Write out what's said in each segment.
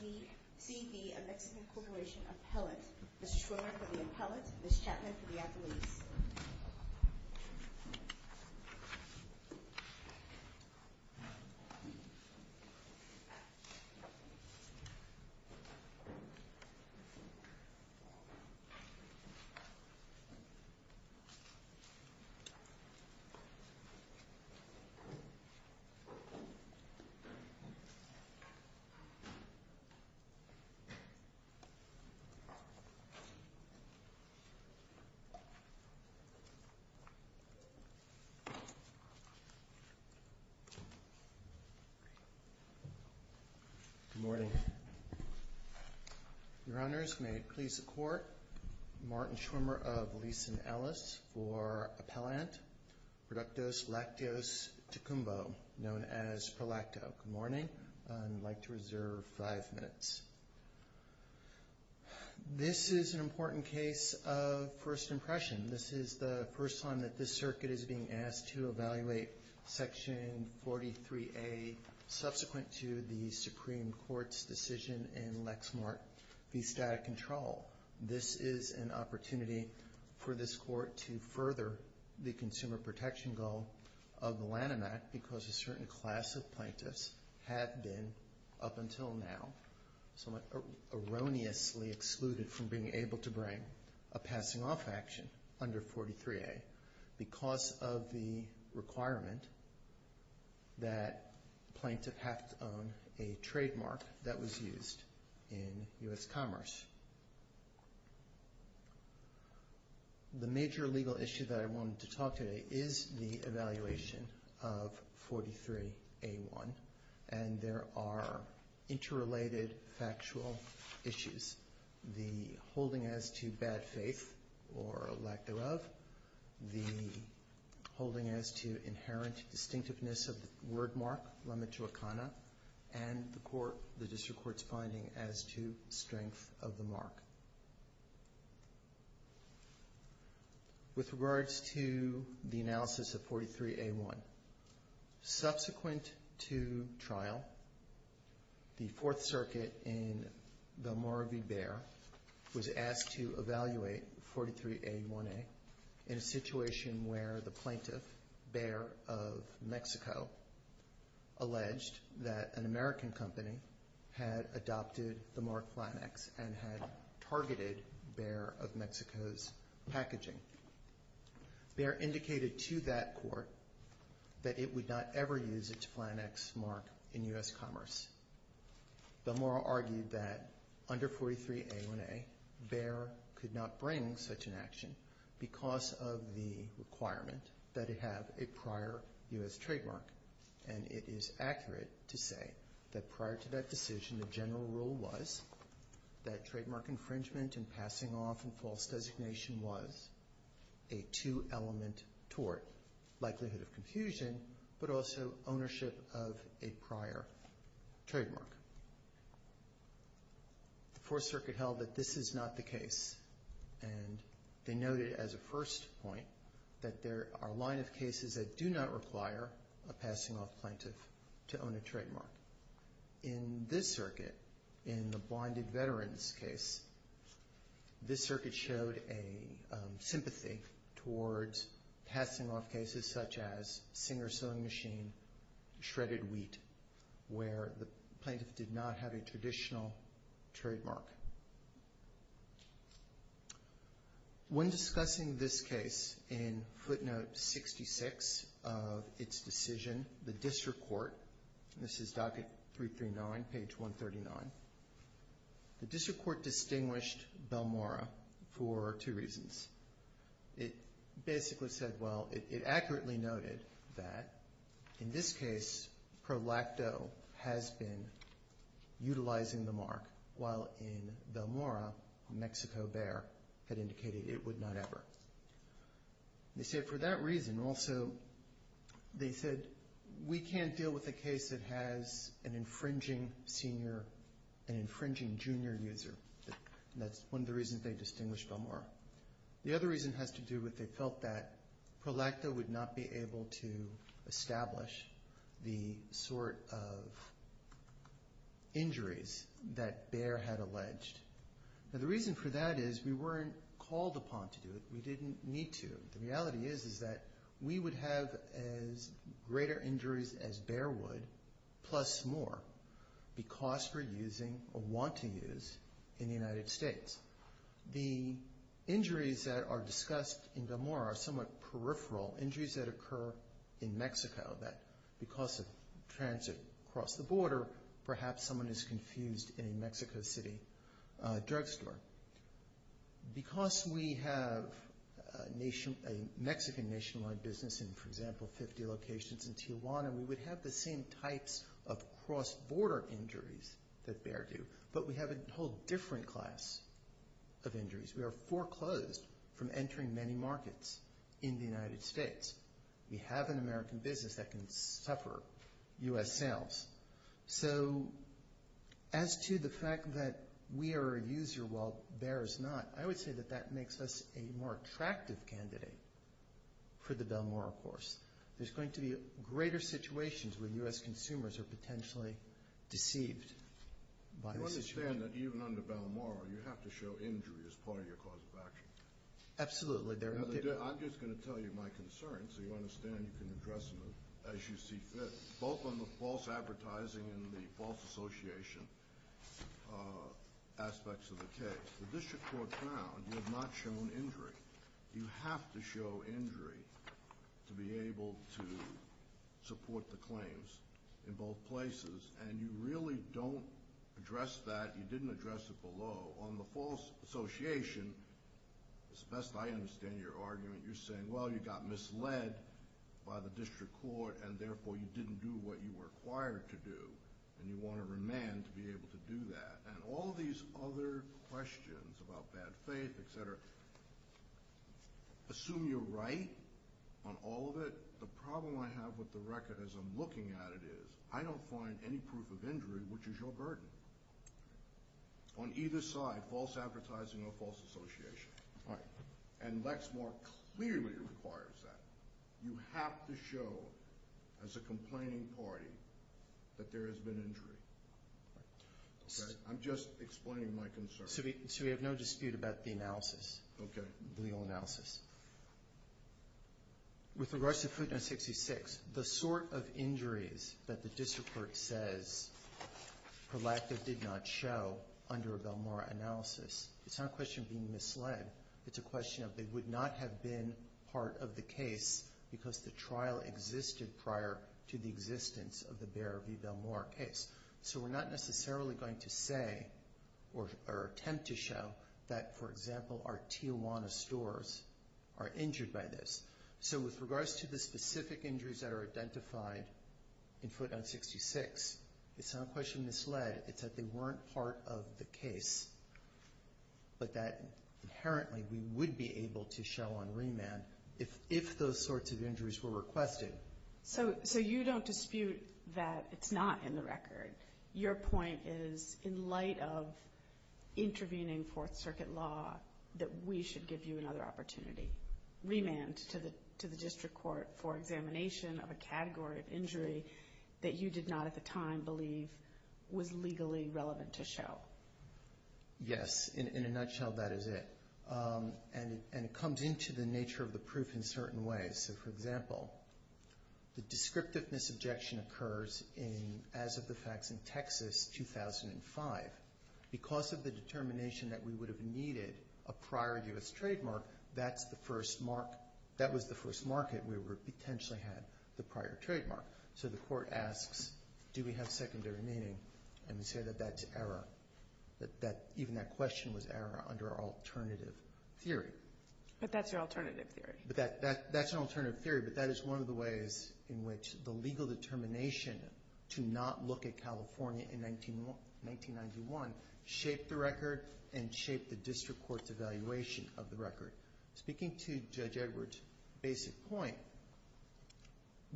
D. C. V. A Mexican Corporation Appellate. Ms. Schwimmer for the appellate, Ms. Chapman for the athletes. Ms. Chapman. Good morning. Your Honors, may it please the Court, Martin Schwimmer of Leeson Ellis for appellant Productos Lacteos Tocumbo, known as ProLacto. Good morning. I'd like to reserve five minutes. This is an important case of first impression. This is the first time that this circuit is being asked to evaluate Section 43A, subsequent to the Supreme Court's decision in Lexmark v. Static Control. This is an opportunity for this Court to further the consumer protection goal of the Lanham Act because a certain class of plaintiffs have been, up until now, somewhat erroneously excluded from being able to bring a passing-off action under 43A because of the requirement that a plaintiff have to own a trademark that was used in U.S. commerce. The major legal issue that I wanted to talk today is the evaluation of 43A1, and there are interrelated factual issues. The holding as to bad faith or lack thereof, the holding as to inherent distinctiveness of the wordmark, and the District Court's finding as to strength of the mark. With regards to the analysis of 43A1, subsequent to trial, the Fourth Circuit in Valmora v. Bexar was asked to evaluate 43A1A in a situation where the plaintiff, Baer of Mexico, alleged that an American company had adopted the mark Flanax and had targeted Baer of Mexico's packaging. Baer indicated to that court that it would not ever use its Flanax mark in U.S. commerce. Valmora argued that under 43A1A, Baer could not bring such an action because of the requirement that it have a prior U.S. trademark, and it is accurate to say that prior to that decision, the general rule was that trademark infringement and passing-off and false designation was a two-element tort, likelihood of confusion, but also ownership of a prior trademark. The Fourth Circuit held that this is not the case, and they noted as a first point that there are a line of cases that do not require a passing-off plaintiff to own a trademark. In this circuit, in the Blinded Veterans case, this circuit showed a sympathy towards passing-off cases such as Singer's Sewing Machine, Shredded Wheat, where the plaintiff did not have a traditional trademark. When discussing this case in footnote 66 of its decision, the district court, and this is docket 339, page 139, the district court distinguished Valmora for two reasons. It basically said, well, it accurately noted that in this case, ProLacto has been utilizing the mark, while in Valmora, Mexico Baer had indicated it would not ever. They said for that reason, also, they said we can't deal with a case that has an infringing senior, an infringing junior user. That's one of the reasons they distinguished Valmora. The other reason has to do with they felt that ProLacto would not be able to establish the sort of injuries that Baer had alleged. The reason for that is we weren't called upon to do it. We didn't need to. The reality is that we would have as greater injuries as Baer would, plus more, because we're using or want to use in the United States. The injuries that are discussed in Valmora are somewhat peripheral, injuries that occur in Mexico that, because of transit across the border, perhaps someone is confused in a Mexico City drugstore. Because we have a Mexican nationwide business in, for example, 50 locations in Tijuana, we would have the same types of cross-border injuries that Baer do, but we have a whole different class of injuries. We are foreclosed from entering many markets in the United States. We have an American business that can suffer U.S. sales. So as to the fact that we are a user while Baer is not, I would say that that makes us a more attractive candidate for the Valmora course. There's going to be greater situations where U.S. consumers are potentially deceived. I understand that even under Valmora you have to show injury as part of your cause of action. Absolutely. I'm just going to tell you my concerns so you understand you can address them as you see fit, both on the false advertising and the false association aspects of the case. The district court found you have not shown injury. You have to show injury to be able to support the claims in both places, and you really don't address that. You didn't address it below. On the false association, as best I understand your argument, you're saying, well, you got misled by the district court and therefore you didn't do what you were required to do, and you want to remand to be able to do that. And all these other questions about bad faith, et cetera, assume you're right on all of it. The problem I have with the record as I'm looking at it is I don't find any proof of injury, which is your burden. On either side, false advertising or false association. And Lexmore clearly requires that. You have to show as a complaining party that there has been injury. I'm just explaining my concerns. So we have no dispute about the analysis, the legal analysis. With regards to footnote 66, the sort of injuries that the district court says Prolactive did not show under a Belmore analysis, it's not a question of being misled. It's a question of they would not have been part of the case because the trial existed prior to the existence of the Bear v. Belmore case. So we're not necessarily going to say or attempt to show that, for example, our Tijuana stores are injured by this. So with regards to the specific injuries that are identified in footnote 66, it's not a question of misled. It's that they weren't part of the case, but that inherently we would be able to show on remand if those sorts of injuries were requested. So you don't dispute that it's not in the record. Your point is in light of intervening Fourth Circuit law that we should give you another opportunity. Remand to the district court for examination of a category of injury that you did not at the time believe was legally relevant to show. Yes. In a nutshell, that is it. And it comes into the nature of the proof in certain ways. So, for example, the descriptiveness objection occurs as of the facts in Texas 2005. Because of the determination that we would have needed a prior U.S. trademark, that was the first market where we potentially had the prior trademark. So the court asks, do we have secondary meaning? And we say that that's error. Even that question was error under our alternative theory. But that's your alternative theory. That's an alternative theory, but that is one of the ways in which the legal determination to not look at California in 1991 shaped the record and shaped the district court's evaluation of the record. Speaking to Judge Edwards' basic point,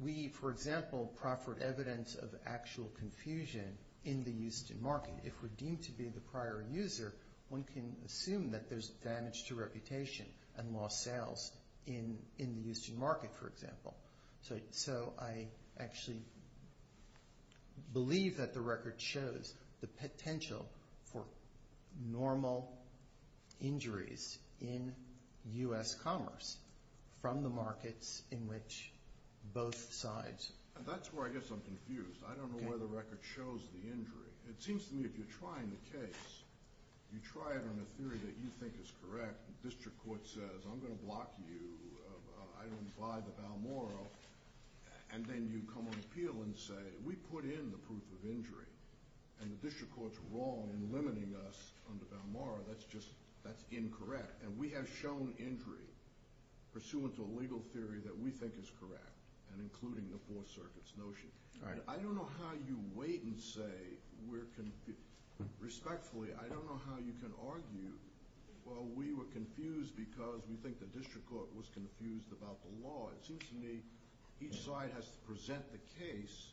we, for example, proffered evidence of actual confusion in the Houston market. If we're deemed to be the prior user, one can assume that there's damage to reputation and lost sales in the Houston market, for example. So I actually believe that the record shows the potential for normal injuries in U.S. commerce from the markets in which both sides. That's where I guess I'm confused. I don't know where the record shows the injury. It seems to me if you're trying the case, you try it on a theory that you think is correct. The district court says, I'm going to block you. I don't buy the Balmora. And then you come on appeal and say, we put in the proof of injury. And the district court's wrong in limiting us on the Balmora. That's incorrect. And we have shown injury pursuant to a legal theory that we think is correct and including the Fourth Circuit's notion. I don't know how you wait and say, respectfully, I don't know how you can argue, well, we were confused because we think the district court was confused about the law. It seems to me each side has to present the case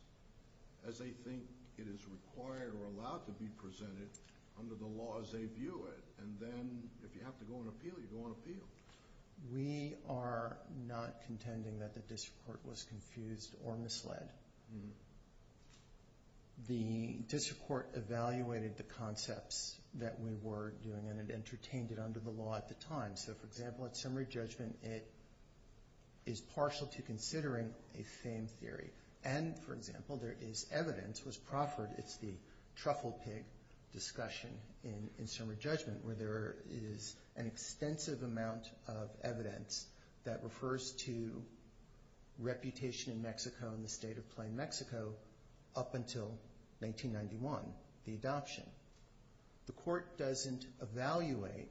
as they think it is required or allowed to be presented under the laws they view it. And then if you have to go on appeal, you go on appeal. We are not contending that the district court was confused or misled. The district court evaluated the concepts that we were doing and it entertained it under the law at the time. So, for example, at summary judgment, it is partial to considering a fame theory. And, for example, there is evidence, it was proffered, it's the truffle pig discussion in summary judgment where there is an extensive amount of evidence that refers to reputation in Mexico and the state of plain Mexico up until 1991, the adoption. The court doesn't evaluate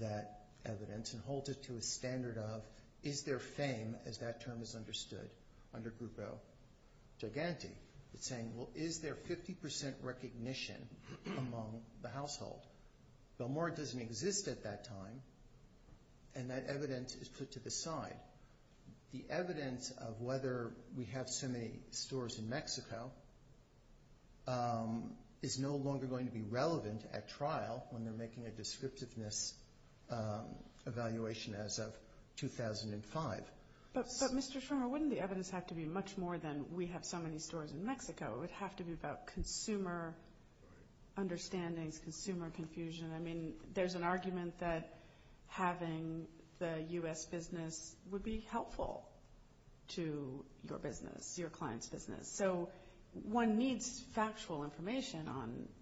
that evidence and hold it to a standard of is there fame as that term is understood under Grupo Gigante. It's saying, well, is there 50% recognition among the household? Belmort doesn't exist at that time and that evidence is put to the side. The evidence of whether we have so many stores in Mexico is no longer going to be relevant at trial when they're making a descriptiveness evaluation as of 2005. But, Mr. Schremer, wouldn't the evidence have to be much more than we have so many stores in Mexico? It would have to be about consumer understandings, consumer confusion. I mean, there's an argument that having the U.S. business would be helpful to your business, your client's business. So one needs factual information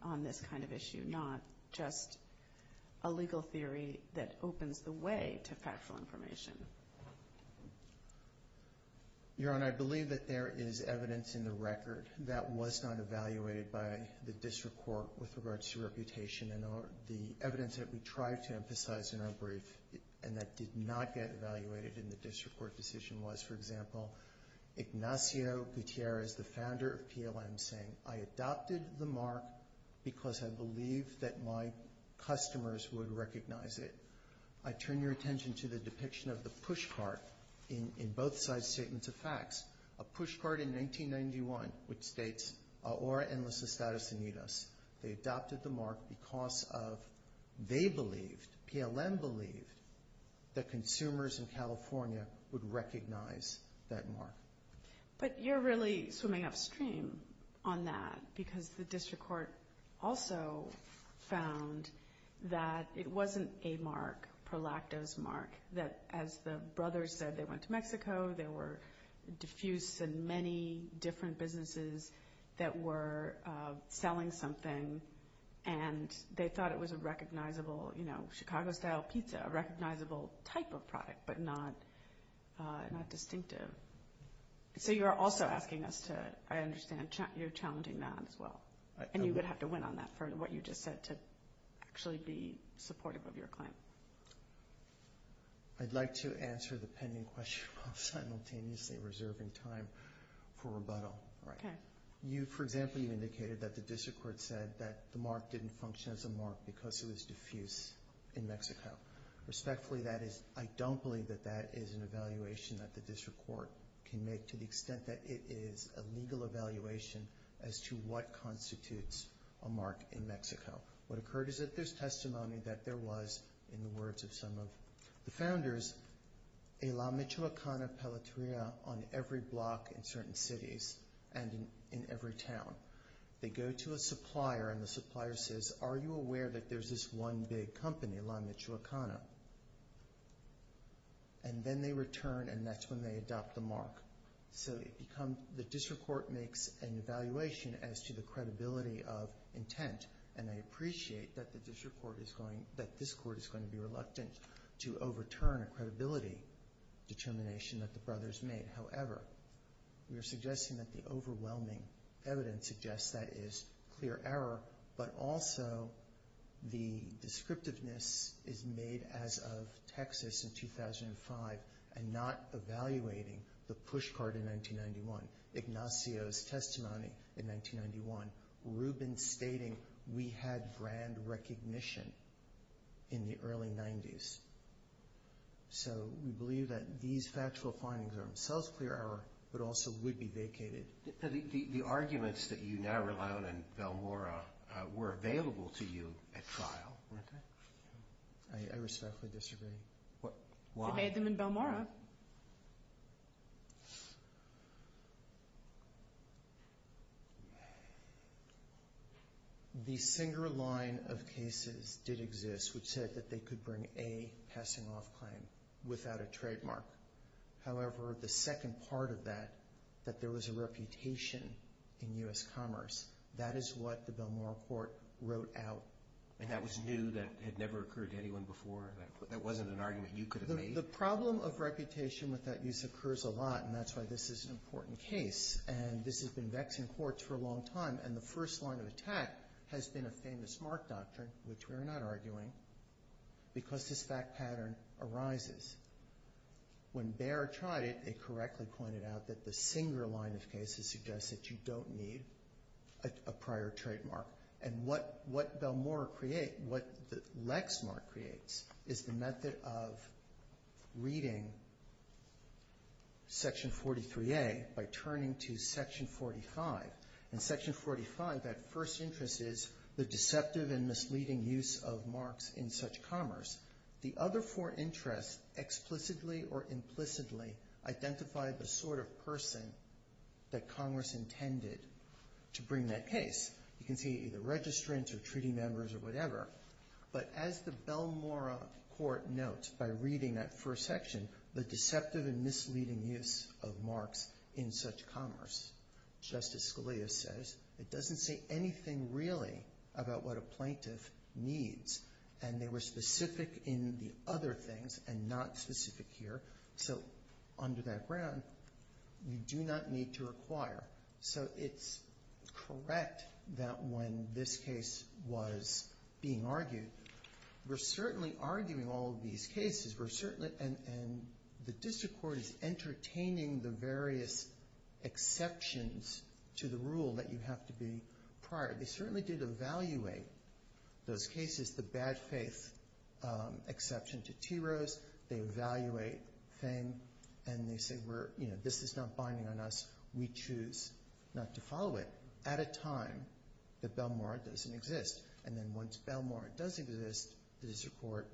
on this kind of issue, not just a legal theory that opens the way to factual information. Your Honor, I believe that there is evidence in the record that was not evaluated by the district court with regards to reputation. The evidence that we tried to emphasize in our brief and that did not get evaluated in the district court decision was, for example, Ignacio Gutierrez, the founder of PLM, saying, I adopted the mark because I believe that my customers would recognize it. I turn your attention to the depiction of the push cart in both sides' statements of facts. A push cart in 1991, which states, Aura Endless Estatus Unidos. They adopted the mark because they believed, PLM believed, that consumers in California would recognize that mark. But you're really swimming upstream on that because the district court also found that it wasn't a mark, ProLacta's mark, that as the brothers said, they went to Mexico, there were diffuse and many different businesses that were selling something, and they thought it was a recognizable Chicago-style pizza, a recognizable type of product, but not distinctive. So you're also asking us to, I understand, you're challenging that as well, and you would have to win on that for what you just said to actually be supportive of your claim. I'd like to answer the pending question while simultaneously reserving time for rebuttal. For example, you indicated that the district court said that the mark didn't function as a mark because it was diffuse in Mexico. Respectfully, I don't believe that that is an evaluation that the district court can make, to the extent that it is a legal evaluation as to what constitutes a mark in Mexico. What occurred is that there's testimony that there was, in the words of some of the founders, a La Michoacana palateria on every block in certain cities and in every town. They go to a supplier, and the supplier says, are you aware that there's this one big company, La Michoacana? And then they return, and that's when they adopt the mark. So the district court makes an evaluation as to the credibility of intent, and I appreciate that this court is going to be reluctant to overturn a credibility determination that the brothers made. However, we are suggesting that the overwhelming evidence suggests that is clear error, but also the descriptiveness is made as of Texas in 2005 and not evaluating the push card in 1991, Ignacio's testimony in 1991, Rubin stating we had brand recognition in the early 90s. So we believe that these factual findings are themselves clear error, but also would be vacated. The arguments that you now rely on in Belmora were available to you at trial, weren't they? I respectfully disagree. They had them in Belmora. The single line of cases did exist which said that they could bring a passing-off claim without a trademark. However, the second part of that, that there was a reputation in U.S. commerce, that is what the Belmora court wrote out. And that was new, that had never occurred to anyone before, that wasn't an argument you could have made? The problem of reputation with that use occurs a lot, and that's why this is an important case, and this has been vexing courts for a long time, and the first line of attack has been a famous mark doctrine, which we are not arguing, because this fact pattern arises. When Bayer tried it, it correctly pointed out that the single line of cases suggests that you don't need a prior trademark. And what Belmora creates, what Lexmark creates, is the method of reading Section 43A by turning to Section 45. In Section 45, that first interest is the deceptive and misleading use of marks in such commerce. The other four interests explicitly or implicitly identify the sort of person that Congress intended to bring that case. You can see either registrants or treaty members or whatever, but as the Belmora court notes by reading that first section, the deceptive and misleading use of marks in such commerce, Justice Scalia says, it doesn't say anything really about what a plaintiff needs, and they were specific in the other things and not specific here. So under that ground, you do not need to require. So it's correct that when this case was being argued, we're certainly arguing all of these cases, and the district court is entertaining the various exceptions to the rule that you have to be prior. They certainly did evaluate those cases, the bad faith exception to T. Rose. They evaluate fame, and they say, you know, this is not binding on us. We choose not to follow it at a time that Belmora doesn't exist. And then once Belmora does exist, the district court,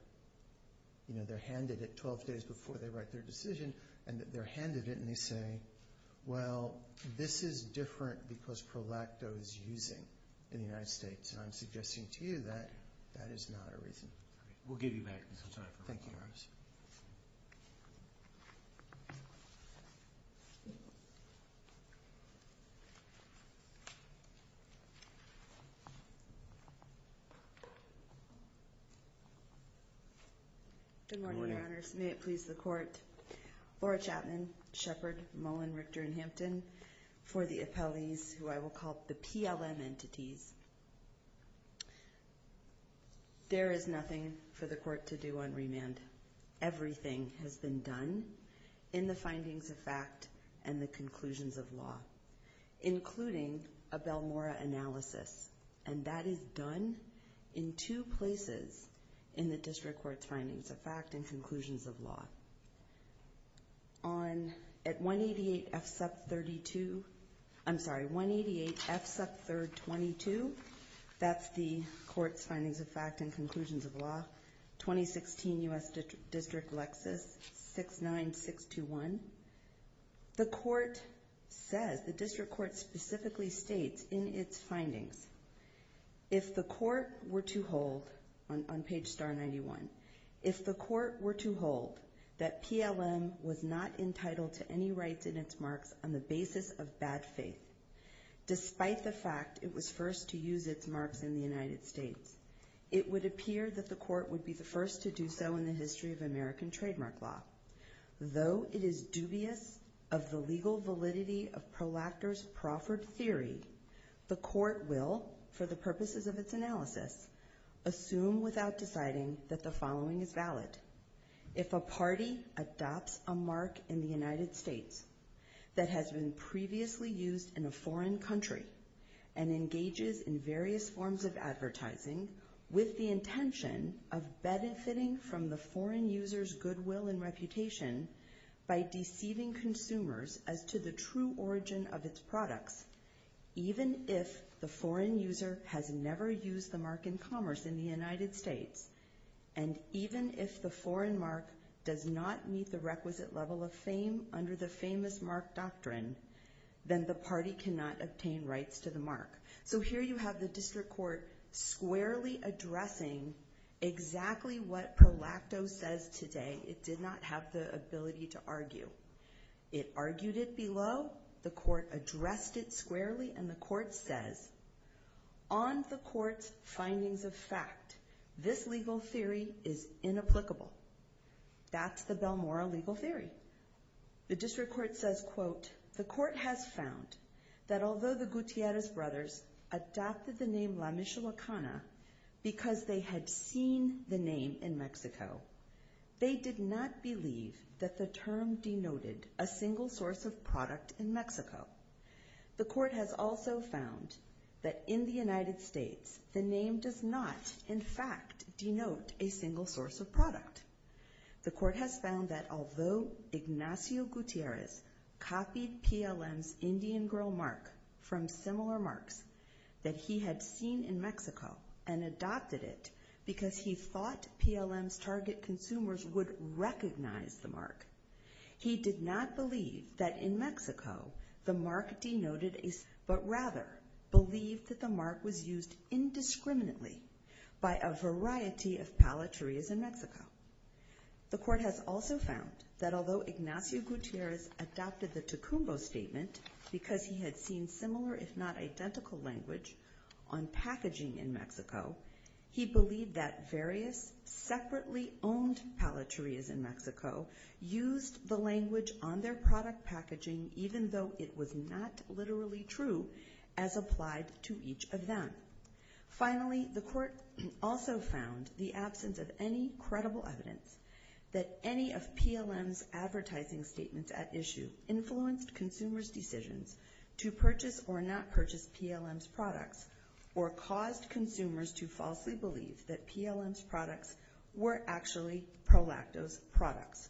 you know, they're handed it 12 days before they write their decision, and they're handed it, and they say, well, this is different because Pro Lacto is using in the United States, and I'm suggesting to you that that is not a reason. We'll give you back. Thank you. May it please the court. Laura Chapman, Shepard, Mullen, Richter, and Hampton, for the appellees, who I will call the PLM entities. There is nothing for the court to do on remand. Everything has been done in the findings of fact and the conclusions of law, including a Belmora analysis, and that is done in two places in the district court's findings of fact and conclusions of law. On, at 188 F SUP 32, I'm sorry, 188 F SUP 3rd 22, that's the court's findings of fact and conclusions of law, 2016 U.S. District Lexus 69621. The court says, the district court specifically states in its findings, if the court were to hold, on page star 91, if the court were to hold that PLM was not entitled to any rights in its marks on the basis of bad faith, despite the fact it was first to use its marks in the United States, it would appear that the court would be the first to do so in the history of American trademark law. Though it is dubious of the legal validity of Proactor's Profford theory, the court will, for the purposes of its analysis, assume without deciding that the following is valid. If a party adopts a mark in the United States that has been previously used in a foreign country and engages in various forms of advertising with the intention of benefiting from the foreign user's goodwill and reputation by deceiving consumers as to the true origin of its products, even if the foreign user has never used the mark in commerce in the United States, and even if the foreign mark does not meet the requisite level of fame under the famous mark doctrine, then the party cannot obtain rights to the mark. So here you have the district court squarely addressing exactly what Proactor says today. It did not have the ability to argue. It argued it below. The court addressed it squarely, and the court says, On the court's findings of fact, this legal theory is inapplicable. That's the Belmora legal theory. The district court says, The court has found that although the Gutierrez brothers adopted the name La Michoacana because they had seen the name in Mexico, they did not believe that the term denoted a single source of product in Mexico. The court has also found that in the United States, the name does not in fact denote a single source of product. The court has found that although Ignacio Gutierrez copied PLM's Indian Girl mark from similar marks that he had seen in Mexico and adopted it because he thought PLM's target consumers would recognize the mark, he did not believe that in Mexico the mark denoted a... but rather believed that the mark was used indiscriminately by a variety of palaterias in Mexico. The court has also found that although Ignacio Gutierrez adopted the Tucumbo statement because he had seen similar if not identical language on packaging in Mexico, he believed that various separately owned palaterias in Mexico used the language on their product packaging even though it was not literally true as applied to each of them. Finally, the court also found the absence of any credible evidence that any of PLM's advertising statements at issue influenced consumers' decisions to purchase or not purchase PLM's products or caused consumers to falsely believe that PLM's products were actually ProLacto's products.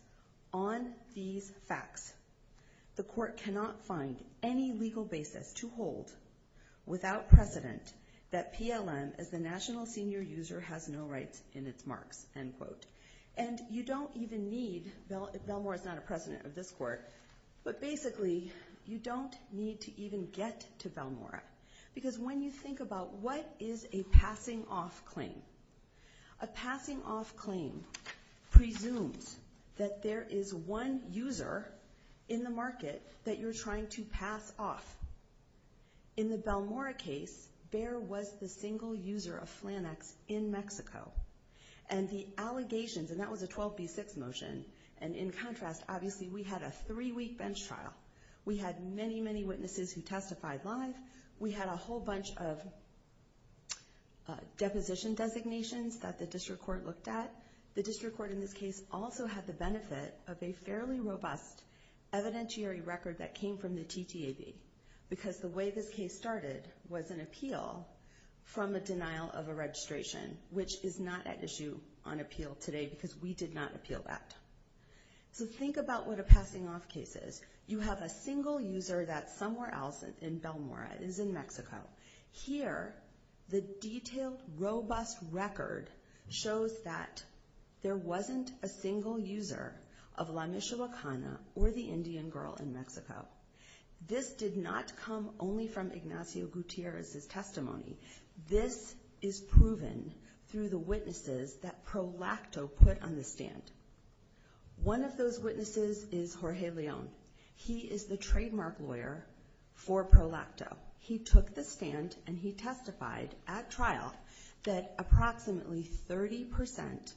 On these facts, the court cannot find any legal basis to hold without precedent that PLM as the national senior user has no rights in its marks, end quote. And you don't even need... Belmore is not a president of this court, but basically you don't need to even get to Belmore because when you think about what is a passing-off claim, a passing-off claim presumes that there is one user in the market that you're trying to pass off. In the Belmore case, Bear was the single user of Flannex in Mexico. And the allegations, and that was a 12b6 motion, and in contrast, obviously we had a three-week bench trial. We had many, many witnesses who testified live, we had a whole bunch of deposition designations that the district court looked at. The district court in this case also had the benefit of a fairly robust evidentiary record that came from the TTAB because the way this case started was an appeal from a denial of a registration, which is not at issue on appeal today because we did not appeal that. So think about what a passing-off case is. You have a single user that's somewhere else in Belmore, it is in Mexico. Here, the detailed, robust record shows that there wasn't a single user of La Mishawakana or the Indian girl in Mexico. This did not come only from Ignacio Gutierrez's testimony. This is proven through the witnesses that Prolacto put on the stand. One of those witnesses is Jorge Leon. He is the trademark lawyer for Prolacto. He took the stand and he testified at trial that approximately 30%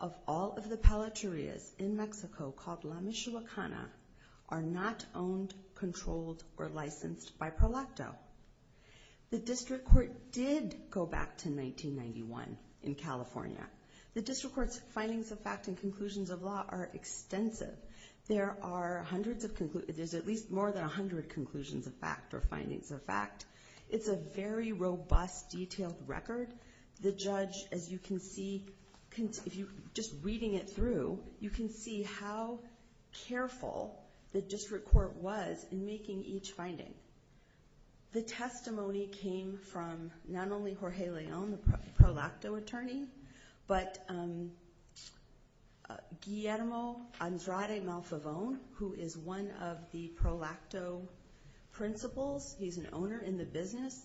of all of the palaterias in Mexico called La Mishawakana are not owned, controlled, or licensed by Prolacto. The district court did go back to 1991 in California. The district court's findings of fact and conclusions of law are extensive. There's at least more than 100 conclusions of fact or findings of fact. It's a very robust, detailed record. The judge, as you can see, just reading it through, you can see how careful the district court was in making each finding. The testimony came from not only Jorge Leon, the Prolacto attorney, but Guillermo Andrade Malfavon, who is one of the Prolacto principals. He's an owner in the business,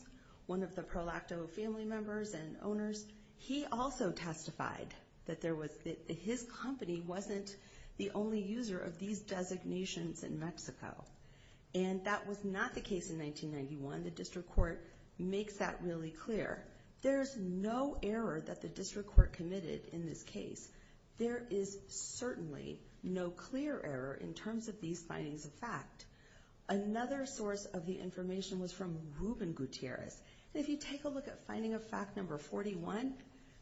one of the Prolacto family members and owners. He also testified that his company wasn't the only user of these designations in Mexico. And that was not the case in 1991. The district court makes that really clear. There's no error that the district court committed in this case. There is certainly no clear error in terms of these findings of fact. Another source of the information was from Ruben Gutierrez. If you take a look at finding of fact number 41,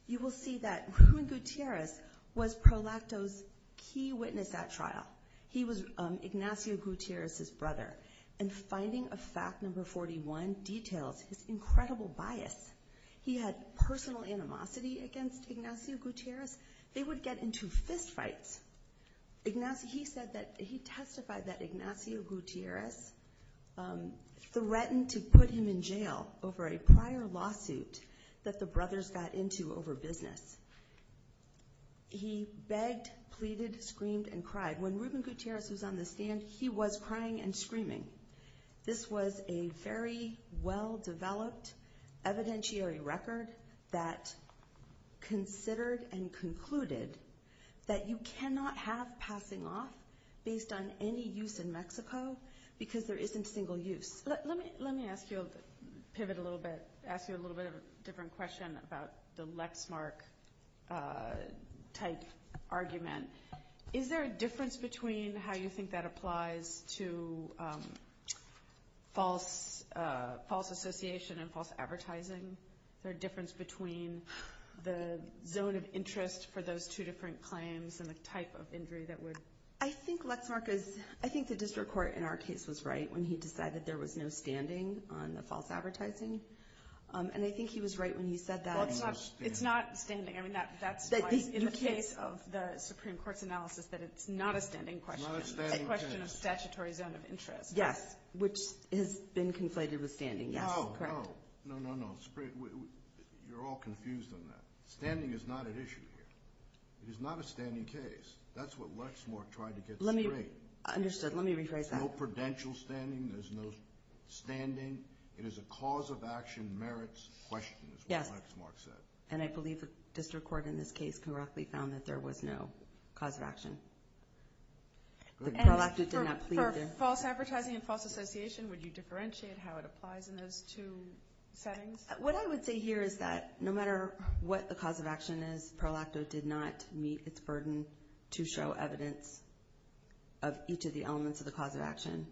you will see that Ruben Gutierrez was Prolacto's key witness at trial. He was Ignacio Gutierrez's brother. And finding of fact number 41 details his incredible bias. He had personal animosity against Ignacio Gutierrez. They would get into fistfights. He testified that Ignacio Gutierrez threatened to put him in jail over a prior lawsuit that the brothers got into over business. He begged, pleaded, screamed, and cried. When Ruben Gutierrez was on the stand, he was crying and screaming. This was a very well-developed evidentiary record that considered and concluded that you cannot have passing off based on any use in Mexico because there isn't single use. Let me ask you a little bit of a different question about the Lexmark-type argument. Is there a difference between how you think that applies to false association and false advertising? Is there a difference between the zone of interest for those two different claims and the type of injury that would... I think Lexmark is... I think the district court in our case was right when he decided there was no standing on the false advertising. And I think he was right when he said that. Well, it's not standing. I mean, that's why in the case of the Supreme Court's analysis that it's not a standing question. It's a question of statutory zone of interest. Yes, which has been conflated with standing. Yes, correct. No, no, no. You're all confused on that. Standing is not at issue here. It is not a standing case. That's what Lexmark tried to get straight. Understood. Let me rephrase that. There's no prudential standing. There's no standing. It is a cause-of-action merits question, is what Lexmark said. And I believe the district court in this case correctly found that there was no cause-of-action. And for false advertising and false association, would you differentiate how it applies in those two settings? What I would say here is that no matter what the cause-of-action is, Pro-Lacto did not meet its burden to show evidence of each of the elements of the cause-of-action.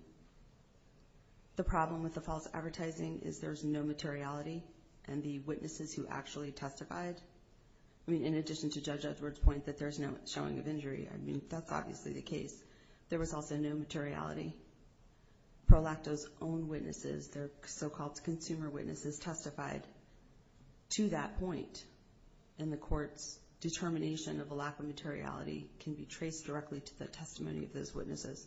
The problem with the false advertising is there's no materiality, and the witnesses who actually testified, I mean, in addition to Judge Edwards' point that there's no showing of injury, I mean, that's obviously the case. There was also no materiality. Pro-Lacto's own witnesses, their so-called consumer witnesses, testified to that point. And the court's determination of a lack of materiality can be traced directly to the testimony of those witnesses.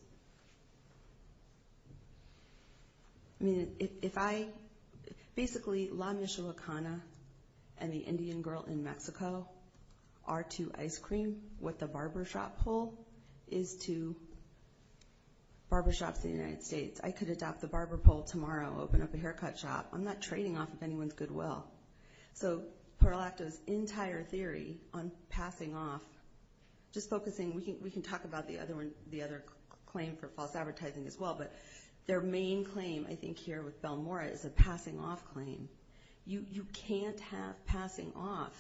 I mean, if I... Basically, La Michoacana and the Indian Girl in Mexico are to ice cream what the barbershop pole is to barbershops in the United States. I could adopt the barber pole tomorrow, open up a haircut shop. I'm not trading off of anyone's goodwill. So Pro-Lacto's entire theory on passing off, just focusing, we can talk about the other claim for false advertising as well, but their main claim I think here with Belmora is a passing off claim. You can't have passing off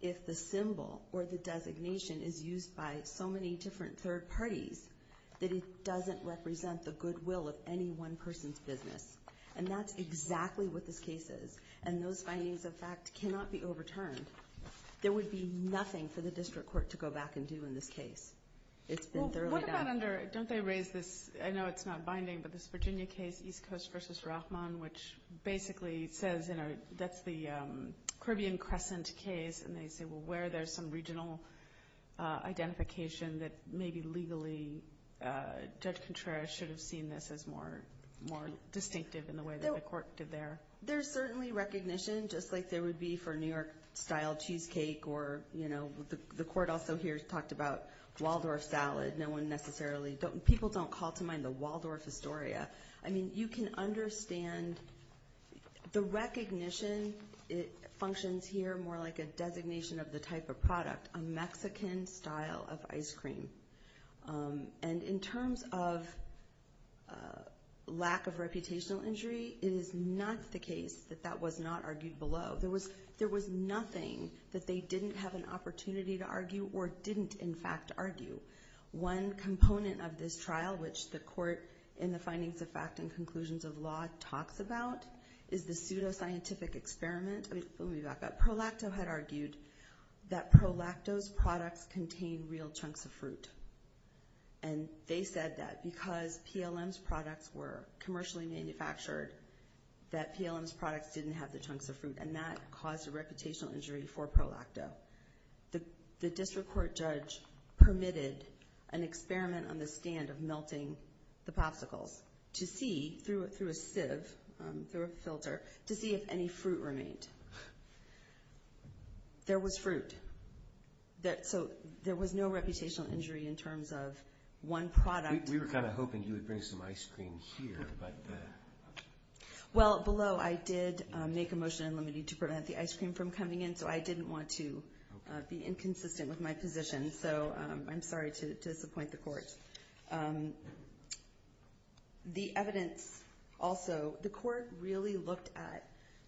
if the symbol or the designation is used by so many different third parties that it doesn't represent the goodwill of any one person's business. And that's exactly what this case is. And those findings, in fact, cannot be overturned. There would be nothing for the district court to go back and do in this case. It's been thoroughly done. Well, what about under... Don't they raise this? I know it's not binding, but this Virginia case, East Coast v. Rachman, which basically says that's the Caribbean Crescent case, and they say, well, where there's some regional identification that maybe legally Judge Contreras should have seen this as more distinctive in the way that the court did there. There's certainly recognition, just like there would be for New York-style cheesecake or, you know, the court also here talked about Waldorf salad. No one necessarily... People don't call to mind the Waldorf Astoria. I mean, you can understand the recognition. It functions here more like a designation of the type of product, a Mexican style of ice cream. And in terms of lack of reputational injury, it is not the case that that was not argued below. There was nothing that they didn't have an opportunity to argue or didn't, in fact, argue. One component of this trial, which the court, in the findings of fact and conclusions of law, talks about, is the pseudoscientific experiment. Let me back up. ProLacto had argued that ProLacto's products contain real chunks of fruit. And they said that because PLM's products were commercially manufactured, that PLM's products didn't have the chunks of fruit, and that caused a reputational injury for ProLacto. The district court judge permitted an experiment on the stand of melting the popsicles to see through a sieve, through a filter, to see if any fruit remained. There was fruit. So there was no reputational injury in terms of one product. We were kind of hoping you would bring some ice cream here. Well, below, I did make a motion in limine to prevent the ice cream from coming in, so I didn't want to be inconsistent with my position. So I'm sorry to disappoint the court. The evidence also, the court really looked at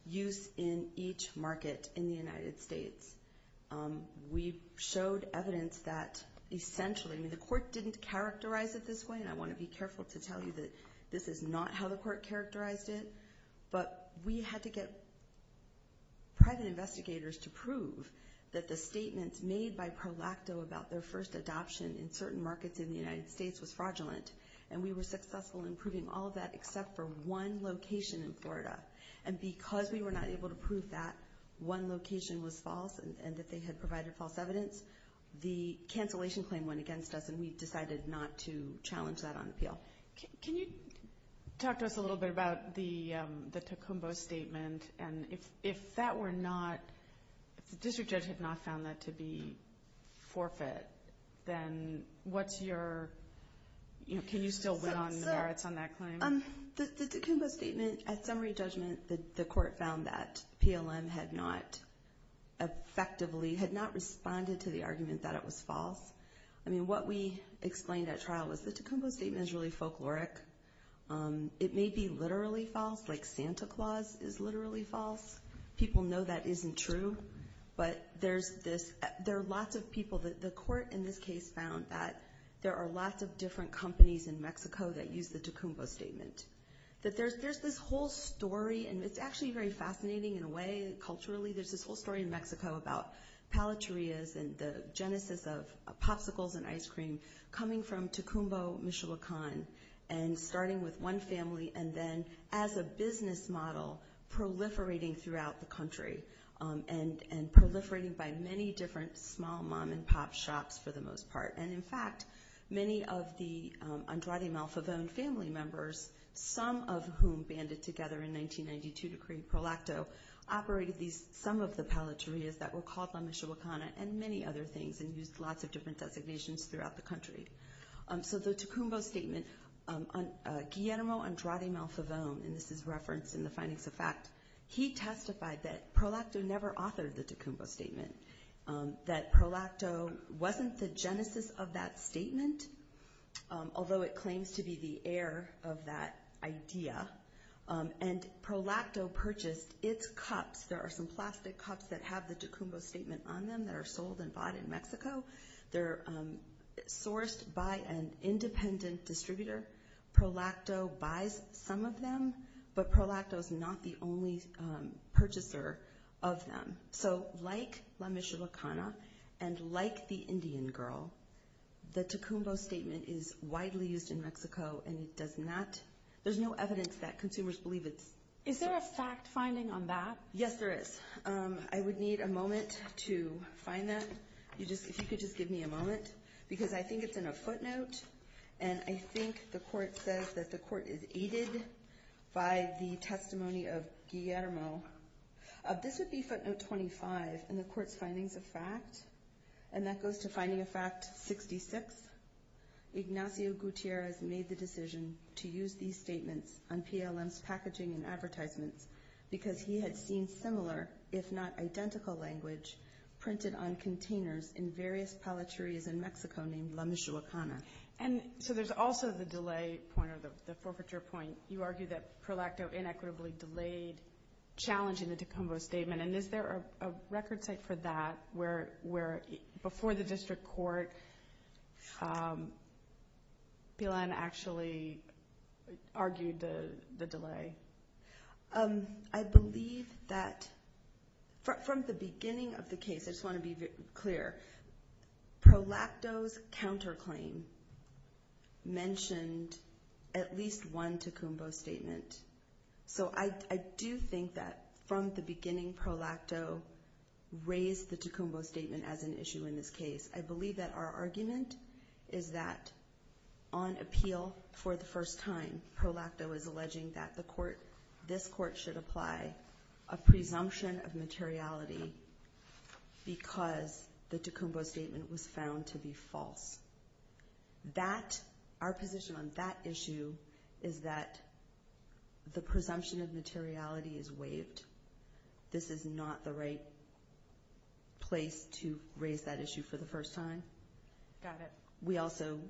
use in each market in the United States. We showed evidence that essentially, I mean, the court didn't characterize it this way, and I want to be careful to tell you that this is not how the court characterized it, but we had to get private investigators to prove that the statements made by ProLacto about their first adoption in certain markets in the United States was fraudulent, and we were successful in proving all of that except for one location in Florida. And because we were not able to prove that one location was false and that they had provided false evidence, the cancellation claim went against us, and we decided not to challenge that on appeal. Can you talk to us a little bit about the Tacumbo statement? And if that were not, if the district judge had not found that to be forfeit, then what's your, you know, can you still win on the merits on that claim? The Tacumbo statement, at summary judgment, the court found that PLM had not effectively, had not responded to the argument that it was false. I mean, what we explained at trial was the Tacumbo statement is really folkloric. It may be literally false, like Santa Claus is literally false. People know that isn't true, but there's this, there are lots of people. The court in this case found that there are lots of different companies in Mexico that use the Tacumbo statement, that there's this whole story, and it's actually very fascinating in a way culturally. There's this whole story in Mexico about palaterias and the genesis of popsicles and ice cream coming from Tacumbo Michoacan and starting with one family and then as a business model proliferating throughout the country and proliferating by many different small mom-and-pop shops for the most part. And, in fact, many of the Andrade Malfavon family members, some of whom banded together in 1992 to create ProLacto, operated some of the palaterias that were called La Michoacana and many other things and used lots of different designations throughout the country. So the Tacumbo statement, Guillermo Andrade Malfavon, and this is referenced in the findings of fact, he testified that ProLacto never authored the Tacumbo statement, that ProLacto wasn't the genesis of that statement, although it claims to be the heir of that idea, and ProLacto purchased its cups. There are some plastic cups that have the Tacumbo statement on them that are sold and bought in Mexico. They're sourced by an independent distributor. ProLacto buys some of them, but ProLacto is not the only purchaser of them. So like La Michoacana and like the Indian Girl, the Tacumbo statement is widely used in Mexico, and it does not – there's no evidence that consumers believe it's – Is there a fact-finding on that? Yes, there is. I would need a moment to find that. If you could just give me a moment, because I think it's in a footnote, and I think the court says that the court is aided by the testimony of Guillermo. This would be footnote 25 in the court's findings of fact, and that goes to finding of fact 66. Ignacio Gutierrez made the decision to use these statements on PLM's packaging and advertisements because he had seen similar, if not identical language, printed on containers in various palatarios in Mexico named La Michoacana. And so there's also the delay point or the forfeiture point. You argue that ProLacto inequitably delayed challenging the Tacumbo statement, and is there a record site for that where, before the district court, PLM actually argued the delay? Okay. I believe that from the beginning of the case, I just want to be clear, ProLacto's counterclaim mentioned at least one Tacumbo statement. So I do think that from the beginning, ProLacto raised the Tacumbo statement as an issue in this case. I believe that our argument is that on appeal for the first time, ProLacto is alleging that this court should apply a presumption of materiality because the Tacumbo statement was found to be false. Our position on that issue is that the presumption of materiality is waived. This is not the right place to raise that issue for the first time. Got it.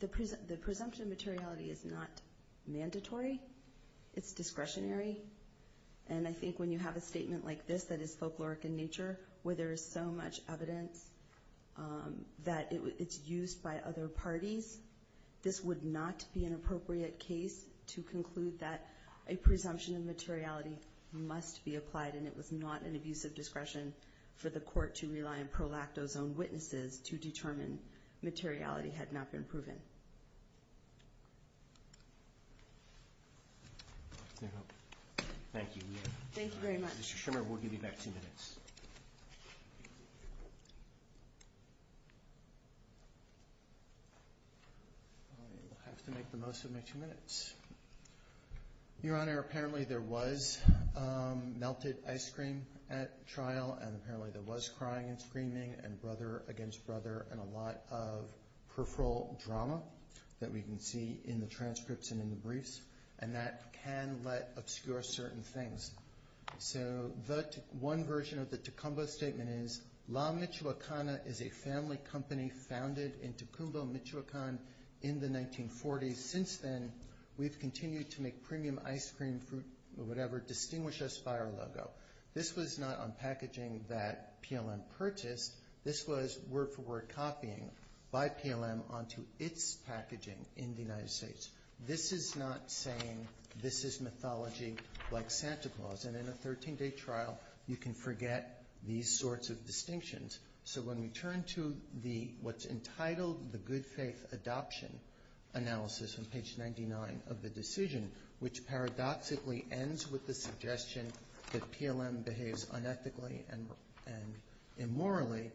The presumption of materiality is not mandatory. It's discretionary. And I think when you have a statement like this that is folkloric in nature, where there is so much evidence that it's used by other parties, this would not be an appropriate case to conclude that a presumption of materiality must be applied, and it was not an abusive discretion for the court to rely on ProLacto's own witnesses to determine materiality had not been proven. Thank you. Thank you very much. Mr. Schimmer, we'll give you back two minutes. I have to make the most of my two minutes. Your Honor, apparently there was melted ice cream at trial, and apparently there was crying and screaming and brother against brother and a lot of peripheral drama that we can see in the transcripts and in the briefs, and that can obscure certain things. So one version of the Tacumbo statement is, La Michoacana is a family company founded in Tacumbo, Michoacan, in the 1940s. And since then, we've continued to make premium ice cream, fruit, or whatever, distinguish us by our logo. This was not on packaging that PLM purchased. This was word-for-word copying by PLM onto its packaging in the United States. This is not saying this is mythology like Santa Claus, and in a 13-day trial you can forget these sorts of distinctions. So when we turn to what's entitled the Good Faith Adoption Analysis on page 99 of the decision, which paradoxically ends with the suggestion that PLM behaves unethically and immorally,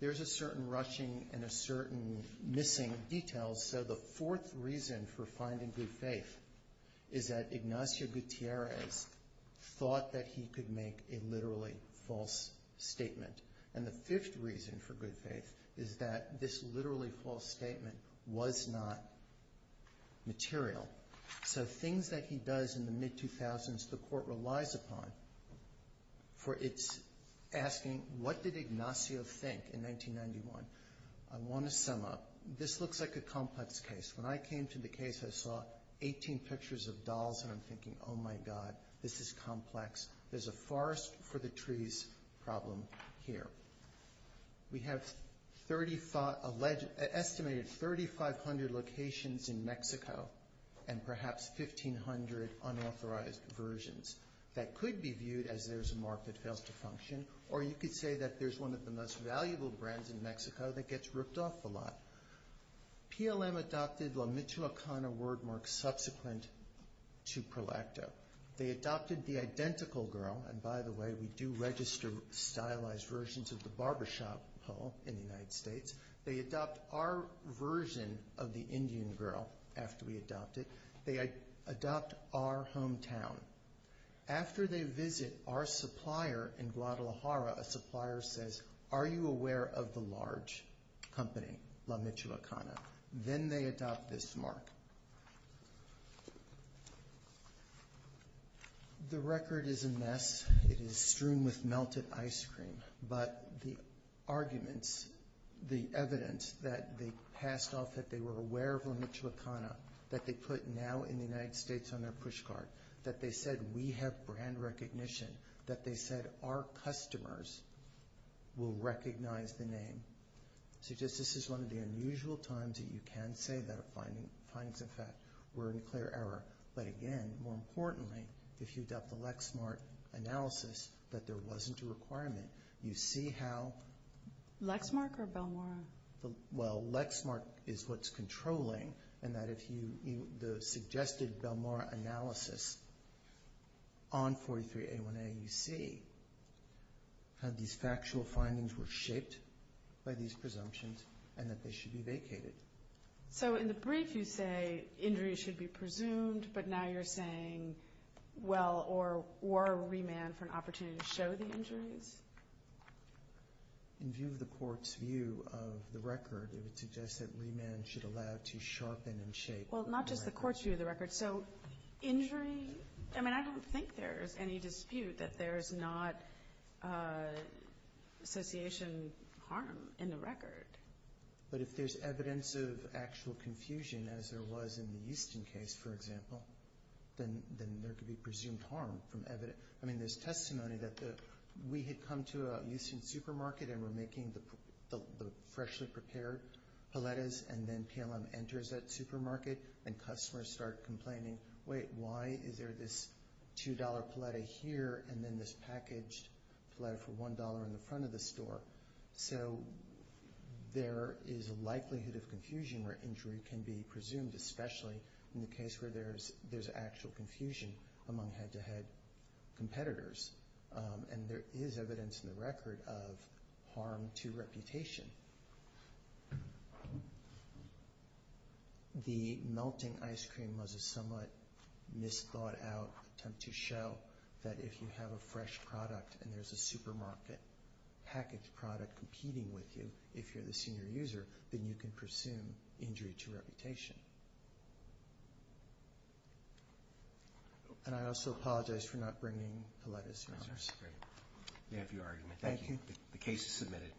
there's a certain rushing and a certain missing detail. So the fourth reason for finding good faith is that Ignacio Gutierrez thought that he could make a literally false statement. And the fifth reason for good faith is that this literally false statement was not material. So things that he does in the mid-2000s, the court relies upon for its asking, what did Ignacio think in 1991? I want to sum up. This looks like a complex case. When I came to the case, I saw 18 pictures of dolls, and I'm thinking, oh, my God, this is complex. There's a forest for the trees problem here. We have estimated 3,500 locations in Mexico and perhaps 1,500 unauthorized versions that could be viewed as there's a mark that fails to function, or you could say that there's one of the most valuable brands in Mexico that gets ripped off a lot. PLM adopted La Michoacana wordmark subsequent to Prolacto. They adopted the identical girl. And by the way, we do register stylized versions of the barbershop pole in the United States. They adopt our version of the Indian girl after we adopt it. They adopt our hometown. After they visit our supplier in Guadalajara, a supplier says, are you aware of the large company, La Michoacana? Then they adopt this mark. The record is a mess. It is strewn with melted ice cream. But the arguments, the evidence that they passed off that they were aware of La Michoacana, that they put now in the United States on their push card, that they said we have brand recognition, that they said our customers will recognize the name. So just this is one of the unusual times that you can say that findings, in fact, were in clear error. But again, more importantly, if you adopt the Lexmark analysis, that there wasn't a requirement. You see how... Lexmark or Belmora? Well, Lexmark is what's controlling, and that if you, the suggested Belmora analysis on 43A1A, then you see how these factual findings were shaped by these presumptions and that they should be vacated. So in the brief you say injuries should be presumed, but now you're saying, well, or remand for an opportunity to show the injuries? In view of the court's view of the record, it would suggest that remand should allow to sharpen and shape. Well, not just the court's view of the record. So injury, I mean, I don't think there's any dispute that there's not association harm in the record. But if there's evidence of actual confusion, as there was in the Houston case, for example, then there could be presumed harm from evidence. I mean, there's testimony that we had come to a Houston supermarket and were making the freshly prepared paletas, and then PLM enters that supermarket, and customers start complaining, wait, why is there this $2 paleta here and then this packaged paleta for $1 in the front of the store? So there is a likelihood of confusion where injury can be presumed, especially in the case where there's actual confusion among head-to-head competitors. And there is evidence in the record of harm to reputation. The melting ice cream was a somewhat misthought-out attempt to show that if you have a fresh product and there's a supermarket packaged product competing with you, if you're the senior user, then you can presume injury to reputation. And I also apologize for not bringing paletas around. Thank you. The case is submitted.